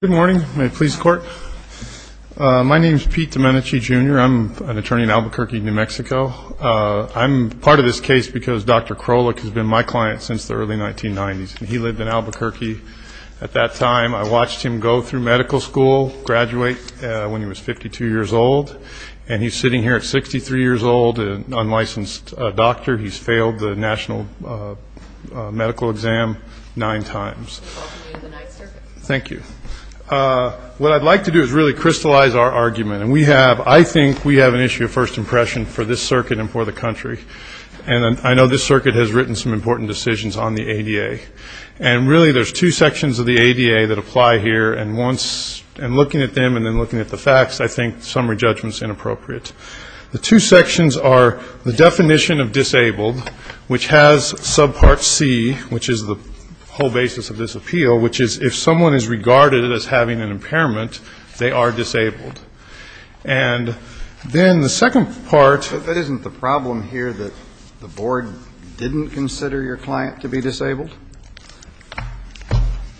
Good morning. My name is Pete Domenici Jr. I'm an attorney in Albuquerque, New Mexico. I'm part of this case because Dr. Krolik has been my client since the early 1990s. He lived in Albuquerque at that time. I watched him go through medical school, graduate when he was 52 years old, and he's sitting here at 63 years old, an unlicensed doctor. He's failed the national medical exam nine times. Thank you. What I'd like to do is really crystallize our argument. And we have I think we have an issue of first impression for this circuit and for the country. And I know this circuit has written some important decisions on the ADA. And really there's two sections of the ADA that apply here. And once I'm looking at them and then looking at the facts, I think summary judgment is inappropriate. The two sections are the definition of disabled, which has subpart C, which is the whole basis of this appeal, which is if someone is regarded as having an impairment, they are disabled. And then the second part. But that isn't the problem here that the board didn't consider your client to be disabled?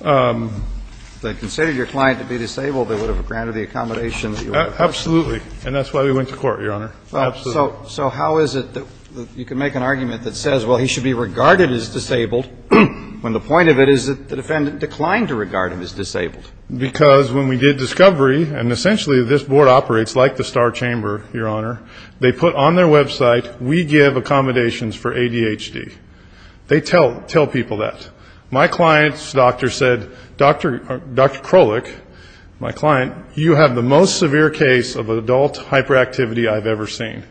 If they considered your client to be disabled, they would have granted the accommodation that you want. Absolutely. And that's why we went to court, Your Honor. So how is it that you can make an argument that says, well, he should be regarded as disabled, when the point of it is that the defendant declined to regard him as disabled? Because when we did discovery, and essentially this board operates like the Star Chamber, Your Honor, they put on their website, we give accommodations for ADHD. They tell people that. My client's doctor said, Dr. Krolich, my client, you have the most severe case of adult hyperactivity I've ever seen.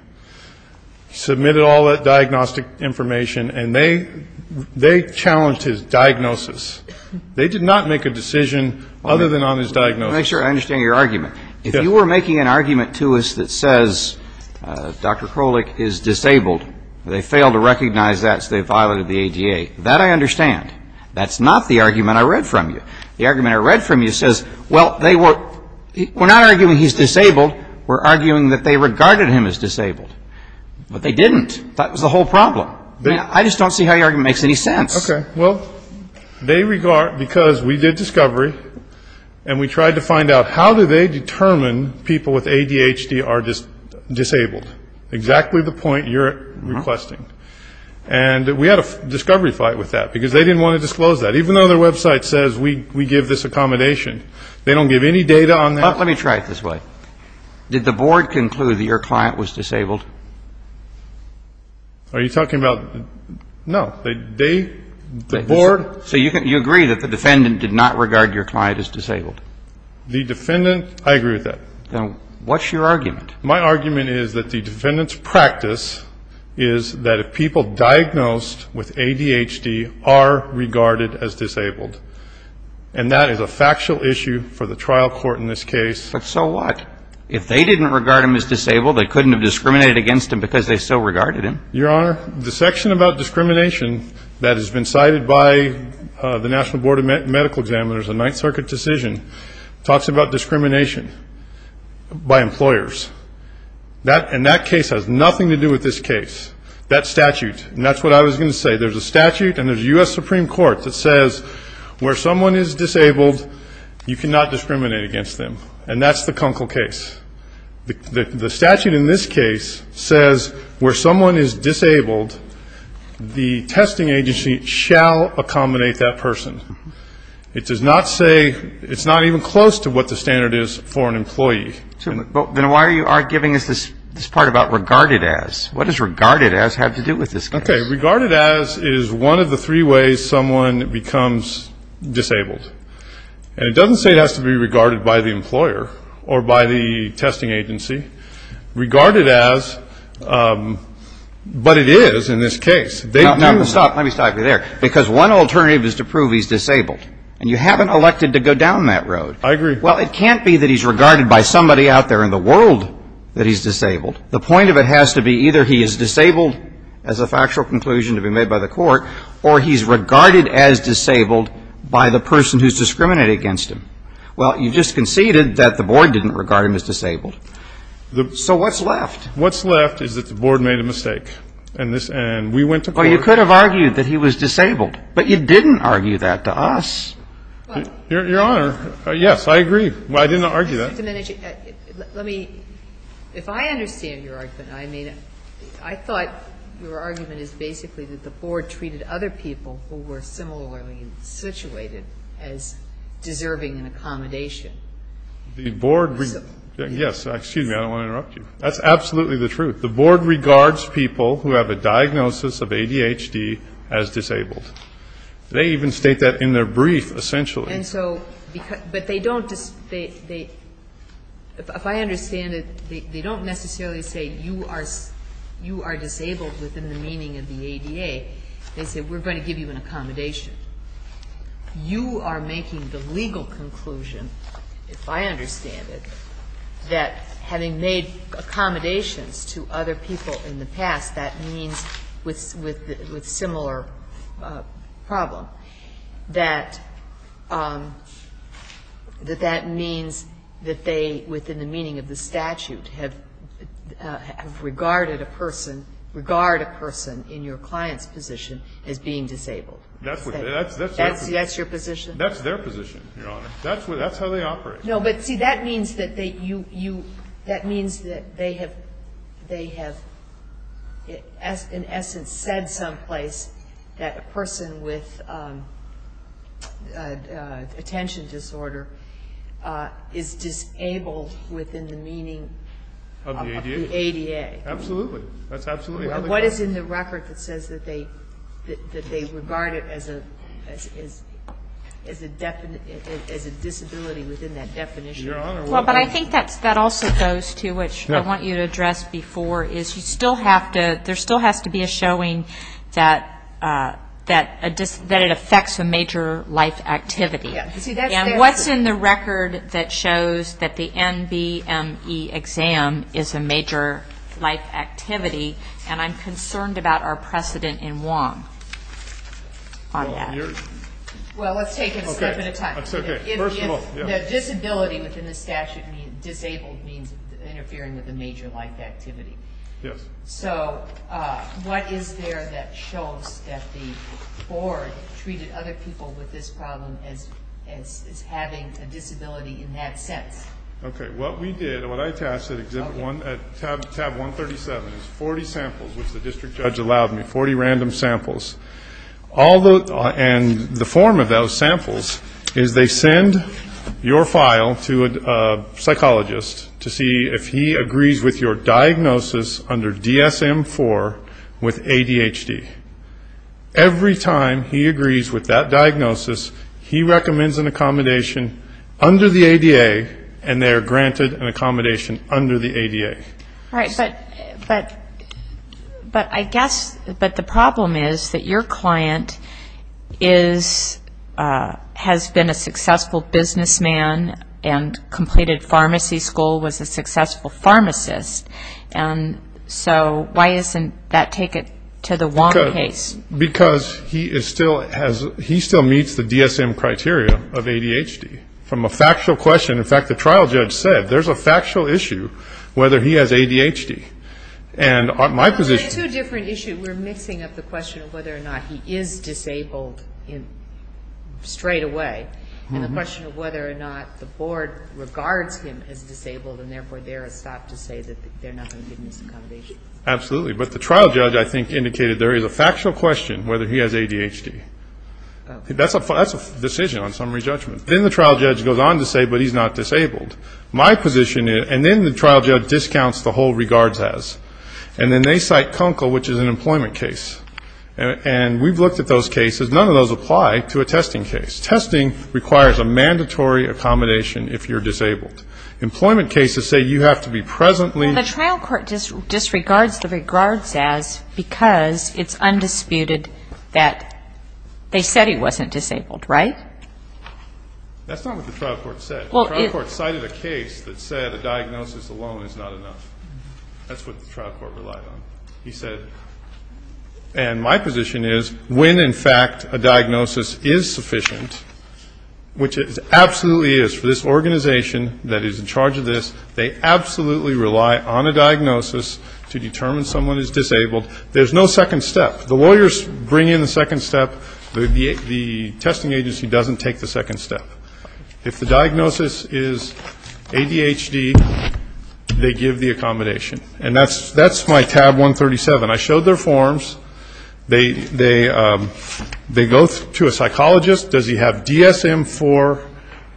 Submitted all that diagnostic information, and they challenged his diagnosis. They did not make a decision other than on his diagnosis. Let me make sure I understand your argument. If you were making an argument to us that says Dr. Krolich is disabled, they failed to recognize that, so they violated the ADA. That I understand. That's not the argument I read from you. The argument I read from you says, well, they were not arguing he's disabled. We're arguing that they regarded him as disabled. But they didn't. That was the whole problem. I just don't see how your argument makes any sense. Okay. Well, they regard, because we did discovery, and we tried to find out, how do they determine people with ADHD are disabled? Exactly the point you're requesting. And we had a discovery fight with that, because they didn't want to disclose that, even though their website says we give this accommodation. They don't give any data on that. Let me try it this way. Did the board conclude that your client was disabled? Are you talking about the board? So you agree that the defendant did not regard your client as disabled? The defendant, I agree with that. Then what's your argument? My argument is that the defendant's practice is that if people diagnosed with ADHD are regarded as disabled, and that is a factual issue for the trial court in this case. But so what? If they didn't regard him as disabled, they couldn't have discriminated against him because they still regarded him. Your Honor, the section about discrimination that has been cited by the National Board of Medical Examiners, the Ninth Circuit decision, talks about discrimination by employers. And that case has nothing to do with this case, that statute. And that's what I was going to say. There's a statute and there's a U.S. Supreme Court that says where someone is disabled, you cannot discriminate against them. And that's the Kunkel case. The statute in this case says where someone is disabled, the testing agency shall accommodate that person. It does not say, it's not even close to what the standard is for an employee. Then why are you arguing this part about regarded as? What does regarded as have to do with this case? Okay, regarded as is one of the three ways someone becomes disabled. And it doesn't say it has to be regarded by the employer or by the testing agency. Regarded as, but it is in this case. Let me stop you there. Because one alternative is to prove he's disabled. And you haven't elected to go down that road. I agree. Well, it can't be that he's regarded by somebody out there in the world that he's disabled. The point of it has to be either he is disabled as a factual conclusion to be made by the court, or he's regarded as disabled by the person who's discriminated against him. Well, you just conceded that the board didn't regard him as disabled. So what's left? What's left is that the board made a mistake. And we went to court. Well, you could have argued that he was disabled. But you didn't argue that to us. Your Honor, yes, I agree. I didn't argue that. Mr. Domenici, let me, if I understand your argument, I thought your argument is basically that the board treated other people who were similarly situated as deserving an accommodation. The board, yes. Excuse me. I don't want to interrupt you. That's absolutely the truth. The board regards people who have a diagnosis of ADHD as disabled. They even state that in their brief, essentially. And so, but they don't, if I understand it, they don't necessarily say you are disabled within the meaning of the ADA. They say we're going to give you an accommodation. You are making the legal conclusion, if I understand it, that having made accommodations to other people in the past, that means with similar problem, that that means that they, within the meaning of the statute, have regarded a person, regard a person in your client's position as being disabled. That's your position? That's their position, Your Honor. That's how they operate. No, but see, that means that they have, in essence, said someplace that a person with attention disorder is disabled within the meaning of the ADA. Absolutely. What is in the record that says that they regard it as a disability within that definition? Well, but I think that also goes to, which I want you to address before, is you still have to, there still has to be a showing that it affects a major life activity. And what's in the record that shows that the NBME exam is a major life activity? And I'm concerned about our precedent in Wong on that. Well, let's take it a step at a time. That's okay. First of all, yeah. If the disability within the statute means, disabled means interfering with a major life activity. Yes. So what is there that shows that the board treated other people with this problem as having a disability in that sense? Okay. What we did, what I attached at Tab 137 is 40 samples, which the district judge allowed me, 40 random samples. And the form of those samples is they send your file to a psychologist to see if he agrees with your diagnosis under DSM-IV with ADHD. Every time he agrees with that diagnosis, he recommends an accommodation under the ADA and they are granted an accommodation under the ADA. All right. But I guess, but the problem is that your client is, has been a successful businessman and completed pharmacy school, was a successful pharmacist. And so why doesn't that take it to the Wong case? Because he is still, he still meets the DSM criteria of ADHD from a factual question. In fact, the trial judge said there's a factual issue whether he has ADHD. And my position It's a different issue. We're mixing up the question of whether or not he is disabled in, straight away. And the question of whether or not the board regards him as disabled and, therefore, they're stopped to say that they're not going to give him this accommodation. Absolutely. But the trial judge, I think, indicated there is a factual question whether he has ADHD. That's a decision on summary judgment. Then the trial judge goes on to say, but he's not disabled. My position is, and then the trial judge discounts the whole regards as. And then they cite CONCL, which is an employment case. And we've looked at those cases. None of those apply to a testing case. Testing requires a mandatory accommodation if you're disabled. Employment cases say you have to be presently The trial court disregards the regards as because it's undisputed that they said he wasn't disabled, right? That's not what the trial court said. The trial court cited a case that said a diagnosis alone is not enough. That's what the trial court relied on. He said, and my position is, when, in fact, a diagnosis is sufficient, which it absolutely is for this organization that is in charge of this, they absolutely rely on a diagnosis to determine someone is disabled. There's no second step. The lawyers bring in the second step. The testing agency doesn't take the second step. If the diagnosis is ADHD, they give the accommodation. And that's my tab 137. I showed their forms. They go to a psychologist. Does he have DSM-IV,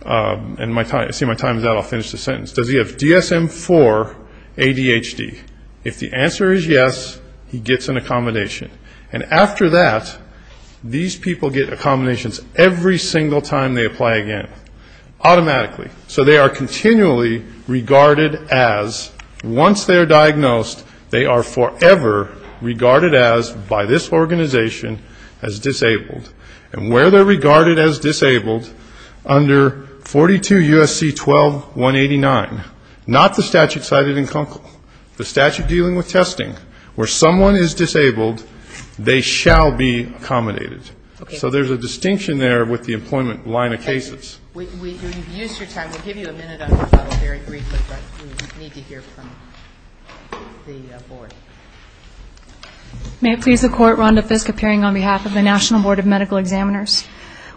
and I see my time is out. I'll finish the sentence. Does he have DSM-IV ADHD? If the answer is yes, he gets an accommodation. And after that, these people get accommodations every single time they apply again, automatically. So they are continually regarded as, once they are diagnosed, they are forever regarded as, by this organization, as disabled. And where they're regarded as disabled, under 42 U.S.C. 12-189, not the statute cited in Kunkel, the statute dealing with testing, where someone is disabled, they shall be accommodated. So there's a distinction there with the employment line of cases. We've used your time. We'll give you a minute. I thought it was very brief. But we need to hear from the board. May it please the Court, Rhonda Fisk appearing on behalf of the National Board of Medical Examiners.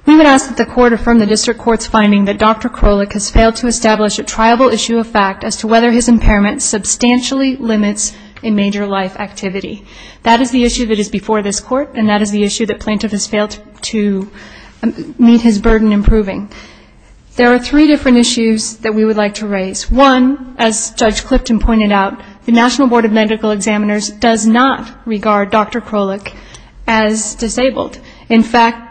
We would ask that the Court affirm the district court's finding that Dr. Krolik has failed to establish a triable issue of fact as to whether his impairment substantially limits a major life activity. That is the issue that is before this Court, and that is the issue that plaintiff has There are three different issues that we would like to raise. One, as Judge Clifton pointed out, the National Board of Medical Examiners does not regard Dr. Krolik as disabled. In fact,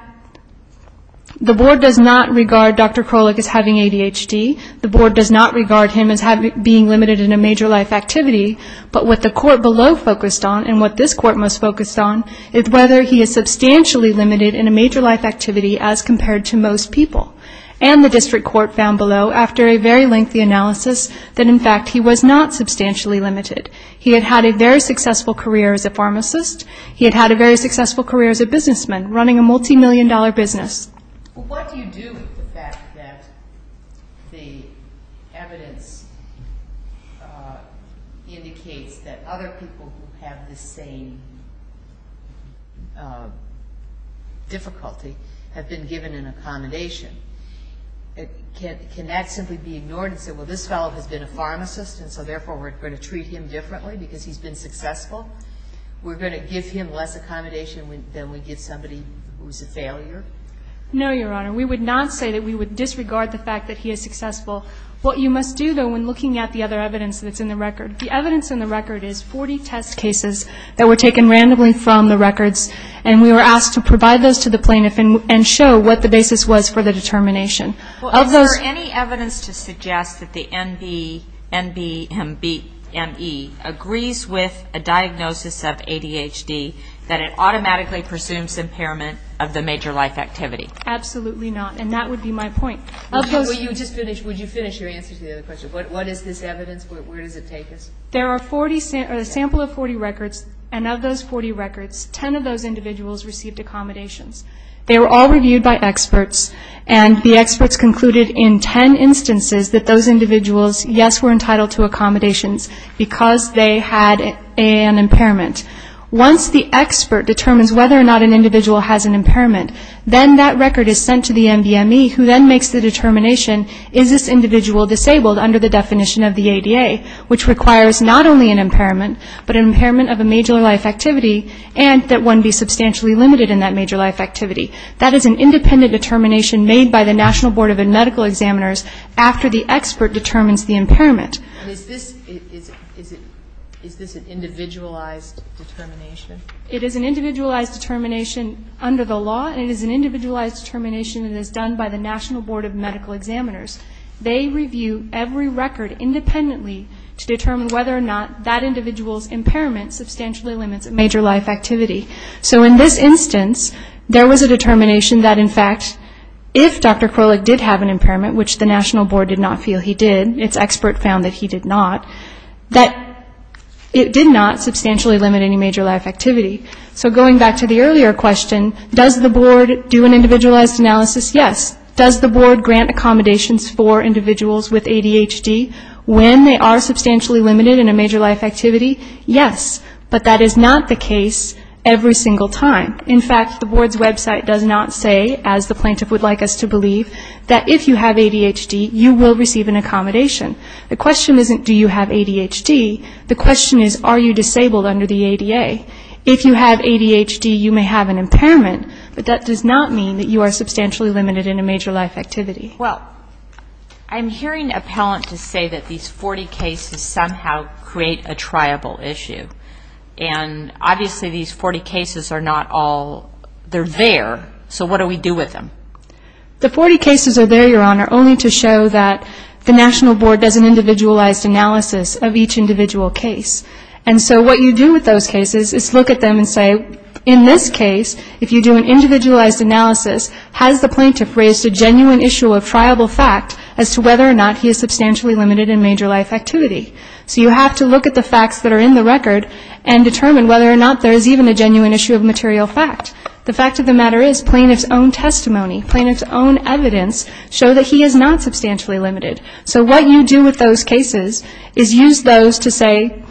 the board does not regard Dr. Krolik as having ADHD. The board does not regard him as being limited in a major life activity. But what the Court below focused on, and what this Court most focused on, is whether he is substantially limited in a major life activity as compared to most people. And the district court found below, after a very lengthy analysis, that in fact he was not substantially limited. He had had a very successful career as a pharmacist. He had had a very successful career as a businessman, running a multimillion dollar business. Well, what do you do with the fact that the evidence indicates that other people who have the same difficulty have been given an accommodation? Can that simply be ignored and said, well, this fellow has been a pharmacist, and so therefore we're going to treat him differently because he's been successful? We're going to give him less accommodation than we give somebody who's a failure? No, Your Honor. We would not say that we would disregard the fact that he is successful. What you must do, though, when looking at the other evidence that's in the record, the evidence in the record is 40 test cases that were taken randomly from the records, and we were asked to provide those to the plaintiff and show what the basis was for the determination. Well, is there any evidence to suggest that the NBME agrees with a diagnosis of ADHD, that it automatically presumes impairment of the major life activity? Absolutely not, and that would be my point. Would you finish your answer to the other question? What is this evidence? Where does it take us? There are a sample of 40 records, and of those 40 records, 10 of those individuals received accommodations. They were all reviewed by experts, and the experts concluded in 10 instances that those individuals, yes, were entitled to accommodations because they had an impairment. Once the expert determines whether or not an individual has an impairment, then that record is sent to the NBME, who then makes the determination, is this individual disabled under the definition of the ADA, which requires not only an impairment, but an impairment of a major life activity, and that one be substantially limited in that major life activity. That is an independent determination made by the National Board of Medical Examiners after the expert determines the impairment. Is this an individualized determination? It is an individualized determination under the law, and it is an individualized determination that is done by the National Board of Medical Examiners. They review every record independently to determine whether or not that individual's impairment substantially limits a major life activity. So in this instance, there was a determination that, in fact, if Dr. Krolik did have an impairment, which the National Board did not feel he did, its expert found that he did not, that it did not substantially limit any major life activity. So going back to the earlier question, does the board do an individualized analysis? Yes. Does the board grant accommodations for individuals with ADHD when they are substantially limited in a major life activity? Yes. But that is not the case every single time. In fact, the board's website does not say, as the plaintiff would like us to believe, that if you have ADHD, you will receive an accommodation. The question isn't do you have ADHD. The question is are you disabled under the ADA. If you have ADHD, you may have an impairment, but that does not mean that you are substantially limited in a major life activity. Well, I'm hearing appellant to say that these 40 cases somehow create a triable issue, and obviously these 40 cases are not all there. So what do we do with them? The 40 cases are there, Your Honor, only to show that the National Board does an individualized analysis of each individual case. And so what you do with those cases is look at them and say, in this case, if you do an individualized analysis, has the plaintiff raised a genuine issue of triable fact as to whether or not he is substantially limited in major life activity? So you have to look at the facts that are in the record and determine whether or not there is even a genuine issue of material fact. The fact of the matter is plaintiff's own testimony, plaintiff's own evidence show that he is not substantially limited. So what you do with those cases is use those to say,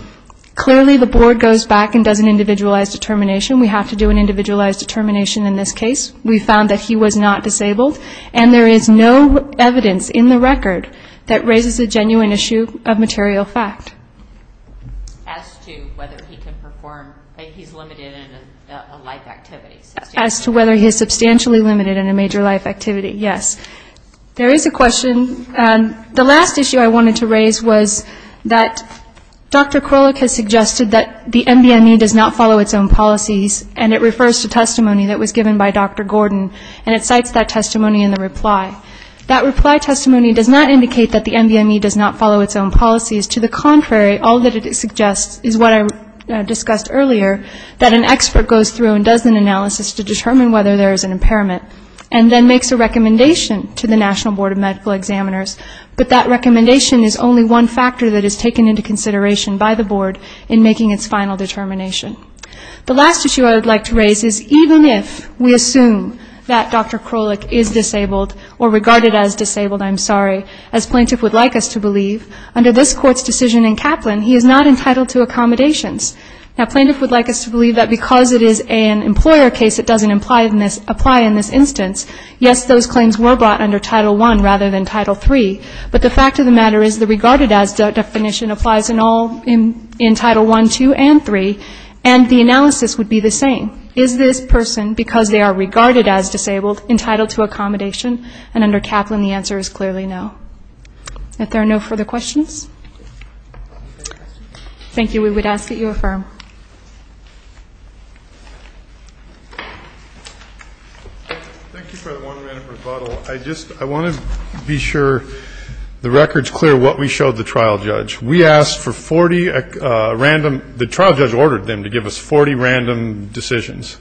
clearly the board goes back and does an individualized determination we have to do an individualized determination in this case. We found that he was not disabled. And there is no evidence in the record that raises a genuine issue of material fact. As to whether he can perform, that he's limited in a life activity. As to whether he is substantially limited in a major life activity, yes. There is a question. The last issue I wanted to raise was that Dr. Krolik has suggested that the NBME does not follow its own policies and it refers to testimony that was given by Dr. Gordon and it cites that testimony in the reply. That reply testimony does not indicate that the NBME does not follow its own policies. To the contrary, all that it suggests is what I discussed earlier, that an expert goes through and does an analysis to determine whether there is an impairment and then makes a recommendation to the National Board of Medical Examiners. The last issue I would like to raise is even if we assume that Dr. Krolik is disabled or regarded as disabled, I'm sorry, as plaintiff would like us to believe, under this court's decision in Kaplan, he is not entitled to accommodations. Now, plaintiff would like us to believe that because it is an employer case, it doesn't apply in this instance. Yes, those claims were brought under Title I rather than Title III. But the fact of the matter is the regarded as definition applies in all instances. In Title I, II, and III, and the analysis would be the same. Is this person, because they are regarded as disabled, entitled to accommodation? And under Kaplan, the answer is clearly no. If there are no further questions. Thank you. We would ask that you affirm. Thank you for the one-minute rebuttal. I just want to be sure the record is clear what we showed the trial judge. We asked for 40 random, the trial judge ordered them to give us 40 random decisions.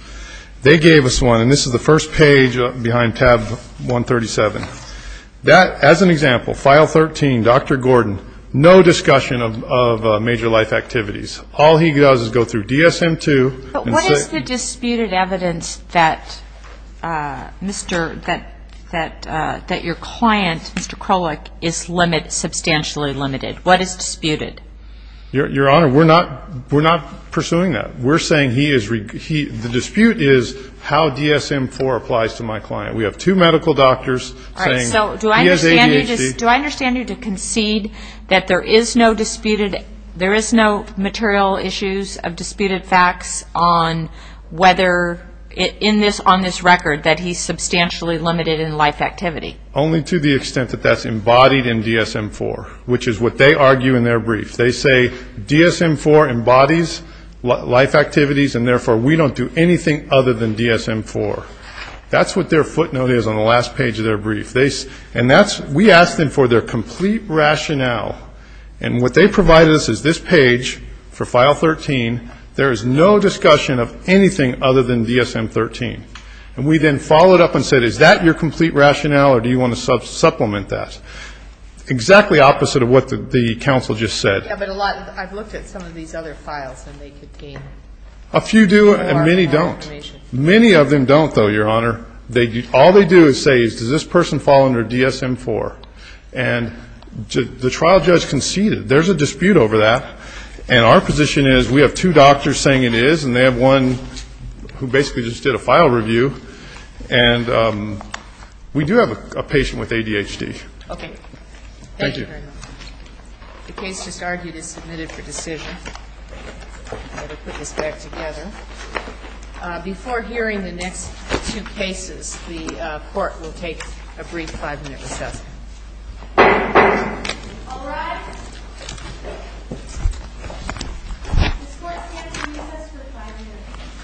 They gave us one, and this is the first page behind tab 137. That, as an example, file 13, Dr. Gordon, no discussion of major life activities. All he does is go through DSM-II. But what is the disputed evidence that Mr. that your client, Mr. Krolik, is substantially limited? What is disputed? Your Honor, we're not pursuing that. We're saying he is, the dispute is how DSM-IV applies to my client. We have two medical doctors saying he has ADHD. Do I understand you to concede that there is no disputed, there is no material issues of disputed facts on whether, on this record, that he's substantially limited in life activity? Only to the extent that that's embodied in DSM-IV, which is what they argue in their brief. They say DSM-IV embodies life activities, and therefore we don't do anything other than DSM-IV. That's what their footnote is on the last page of their brief. And that's, we asked them for their complete rationale. And what they provided us is this page for file 13, there is no discussion of anything other than DSM-13. And we then followed up and said, is that your complete rationale, or do you want to supplement that? Exactly opposite of what the counsel just said. Yeah, but a lot, I've looked at some of these other files, and they contain a lot of information. A few do, and many don't. Many of them don't, though, Your Honor. All they do is say, does this person fall under DSM-IV? And the trial judge conceded. There's a dispute over that. And our position is, we have two doctors saying it is, and they have one who basically just did a file review. And we do have a patient with ADHD. Thank you. Thank you, Your Honor. The case just argued is submitted for decision. I'm going to put this back together. Before hearing the next two cases, the court will take a brief five-minute recess. All rise. This court stands on recess for five minutes.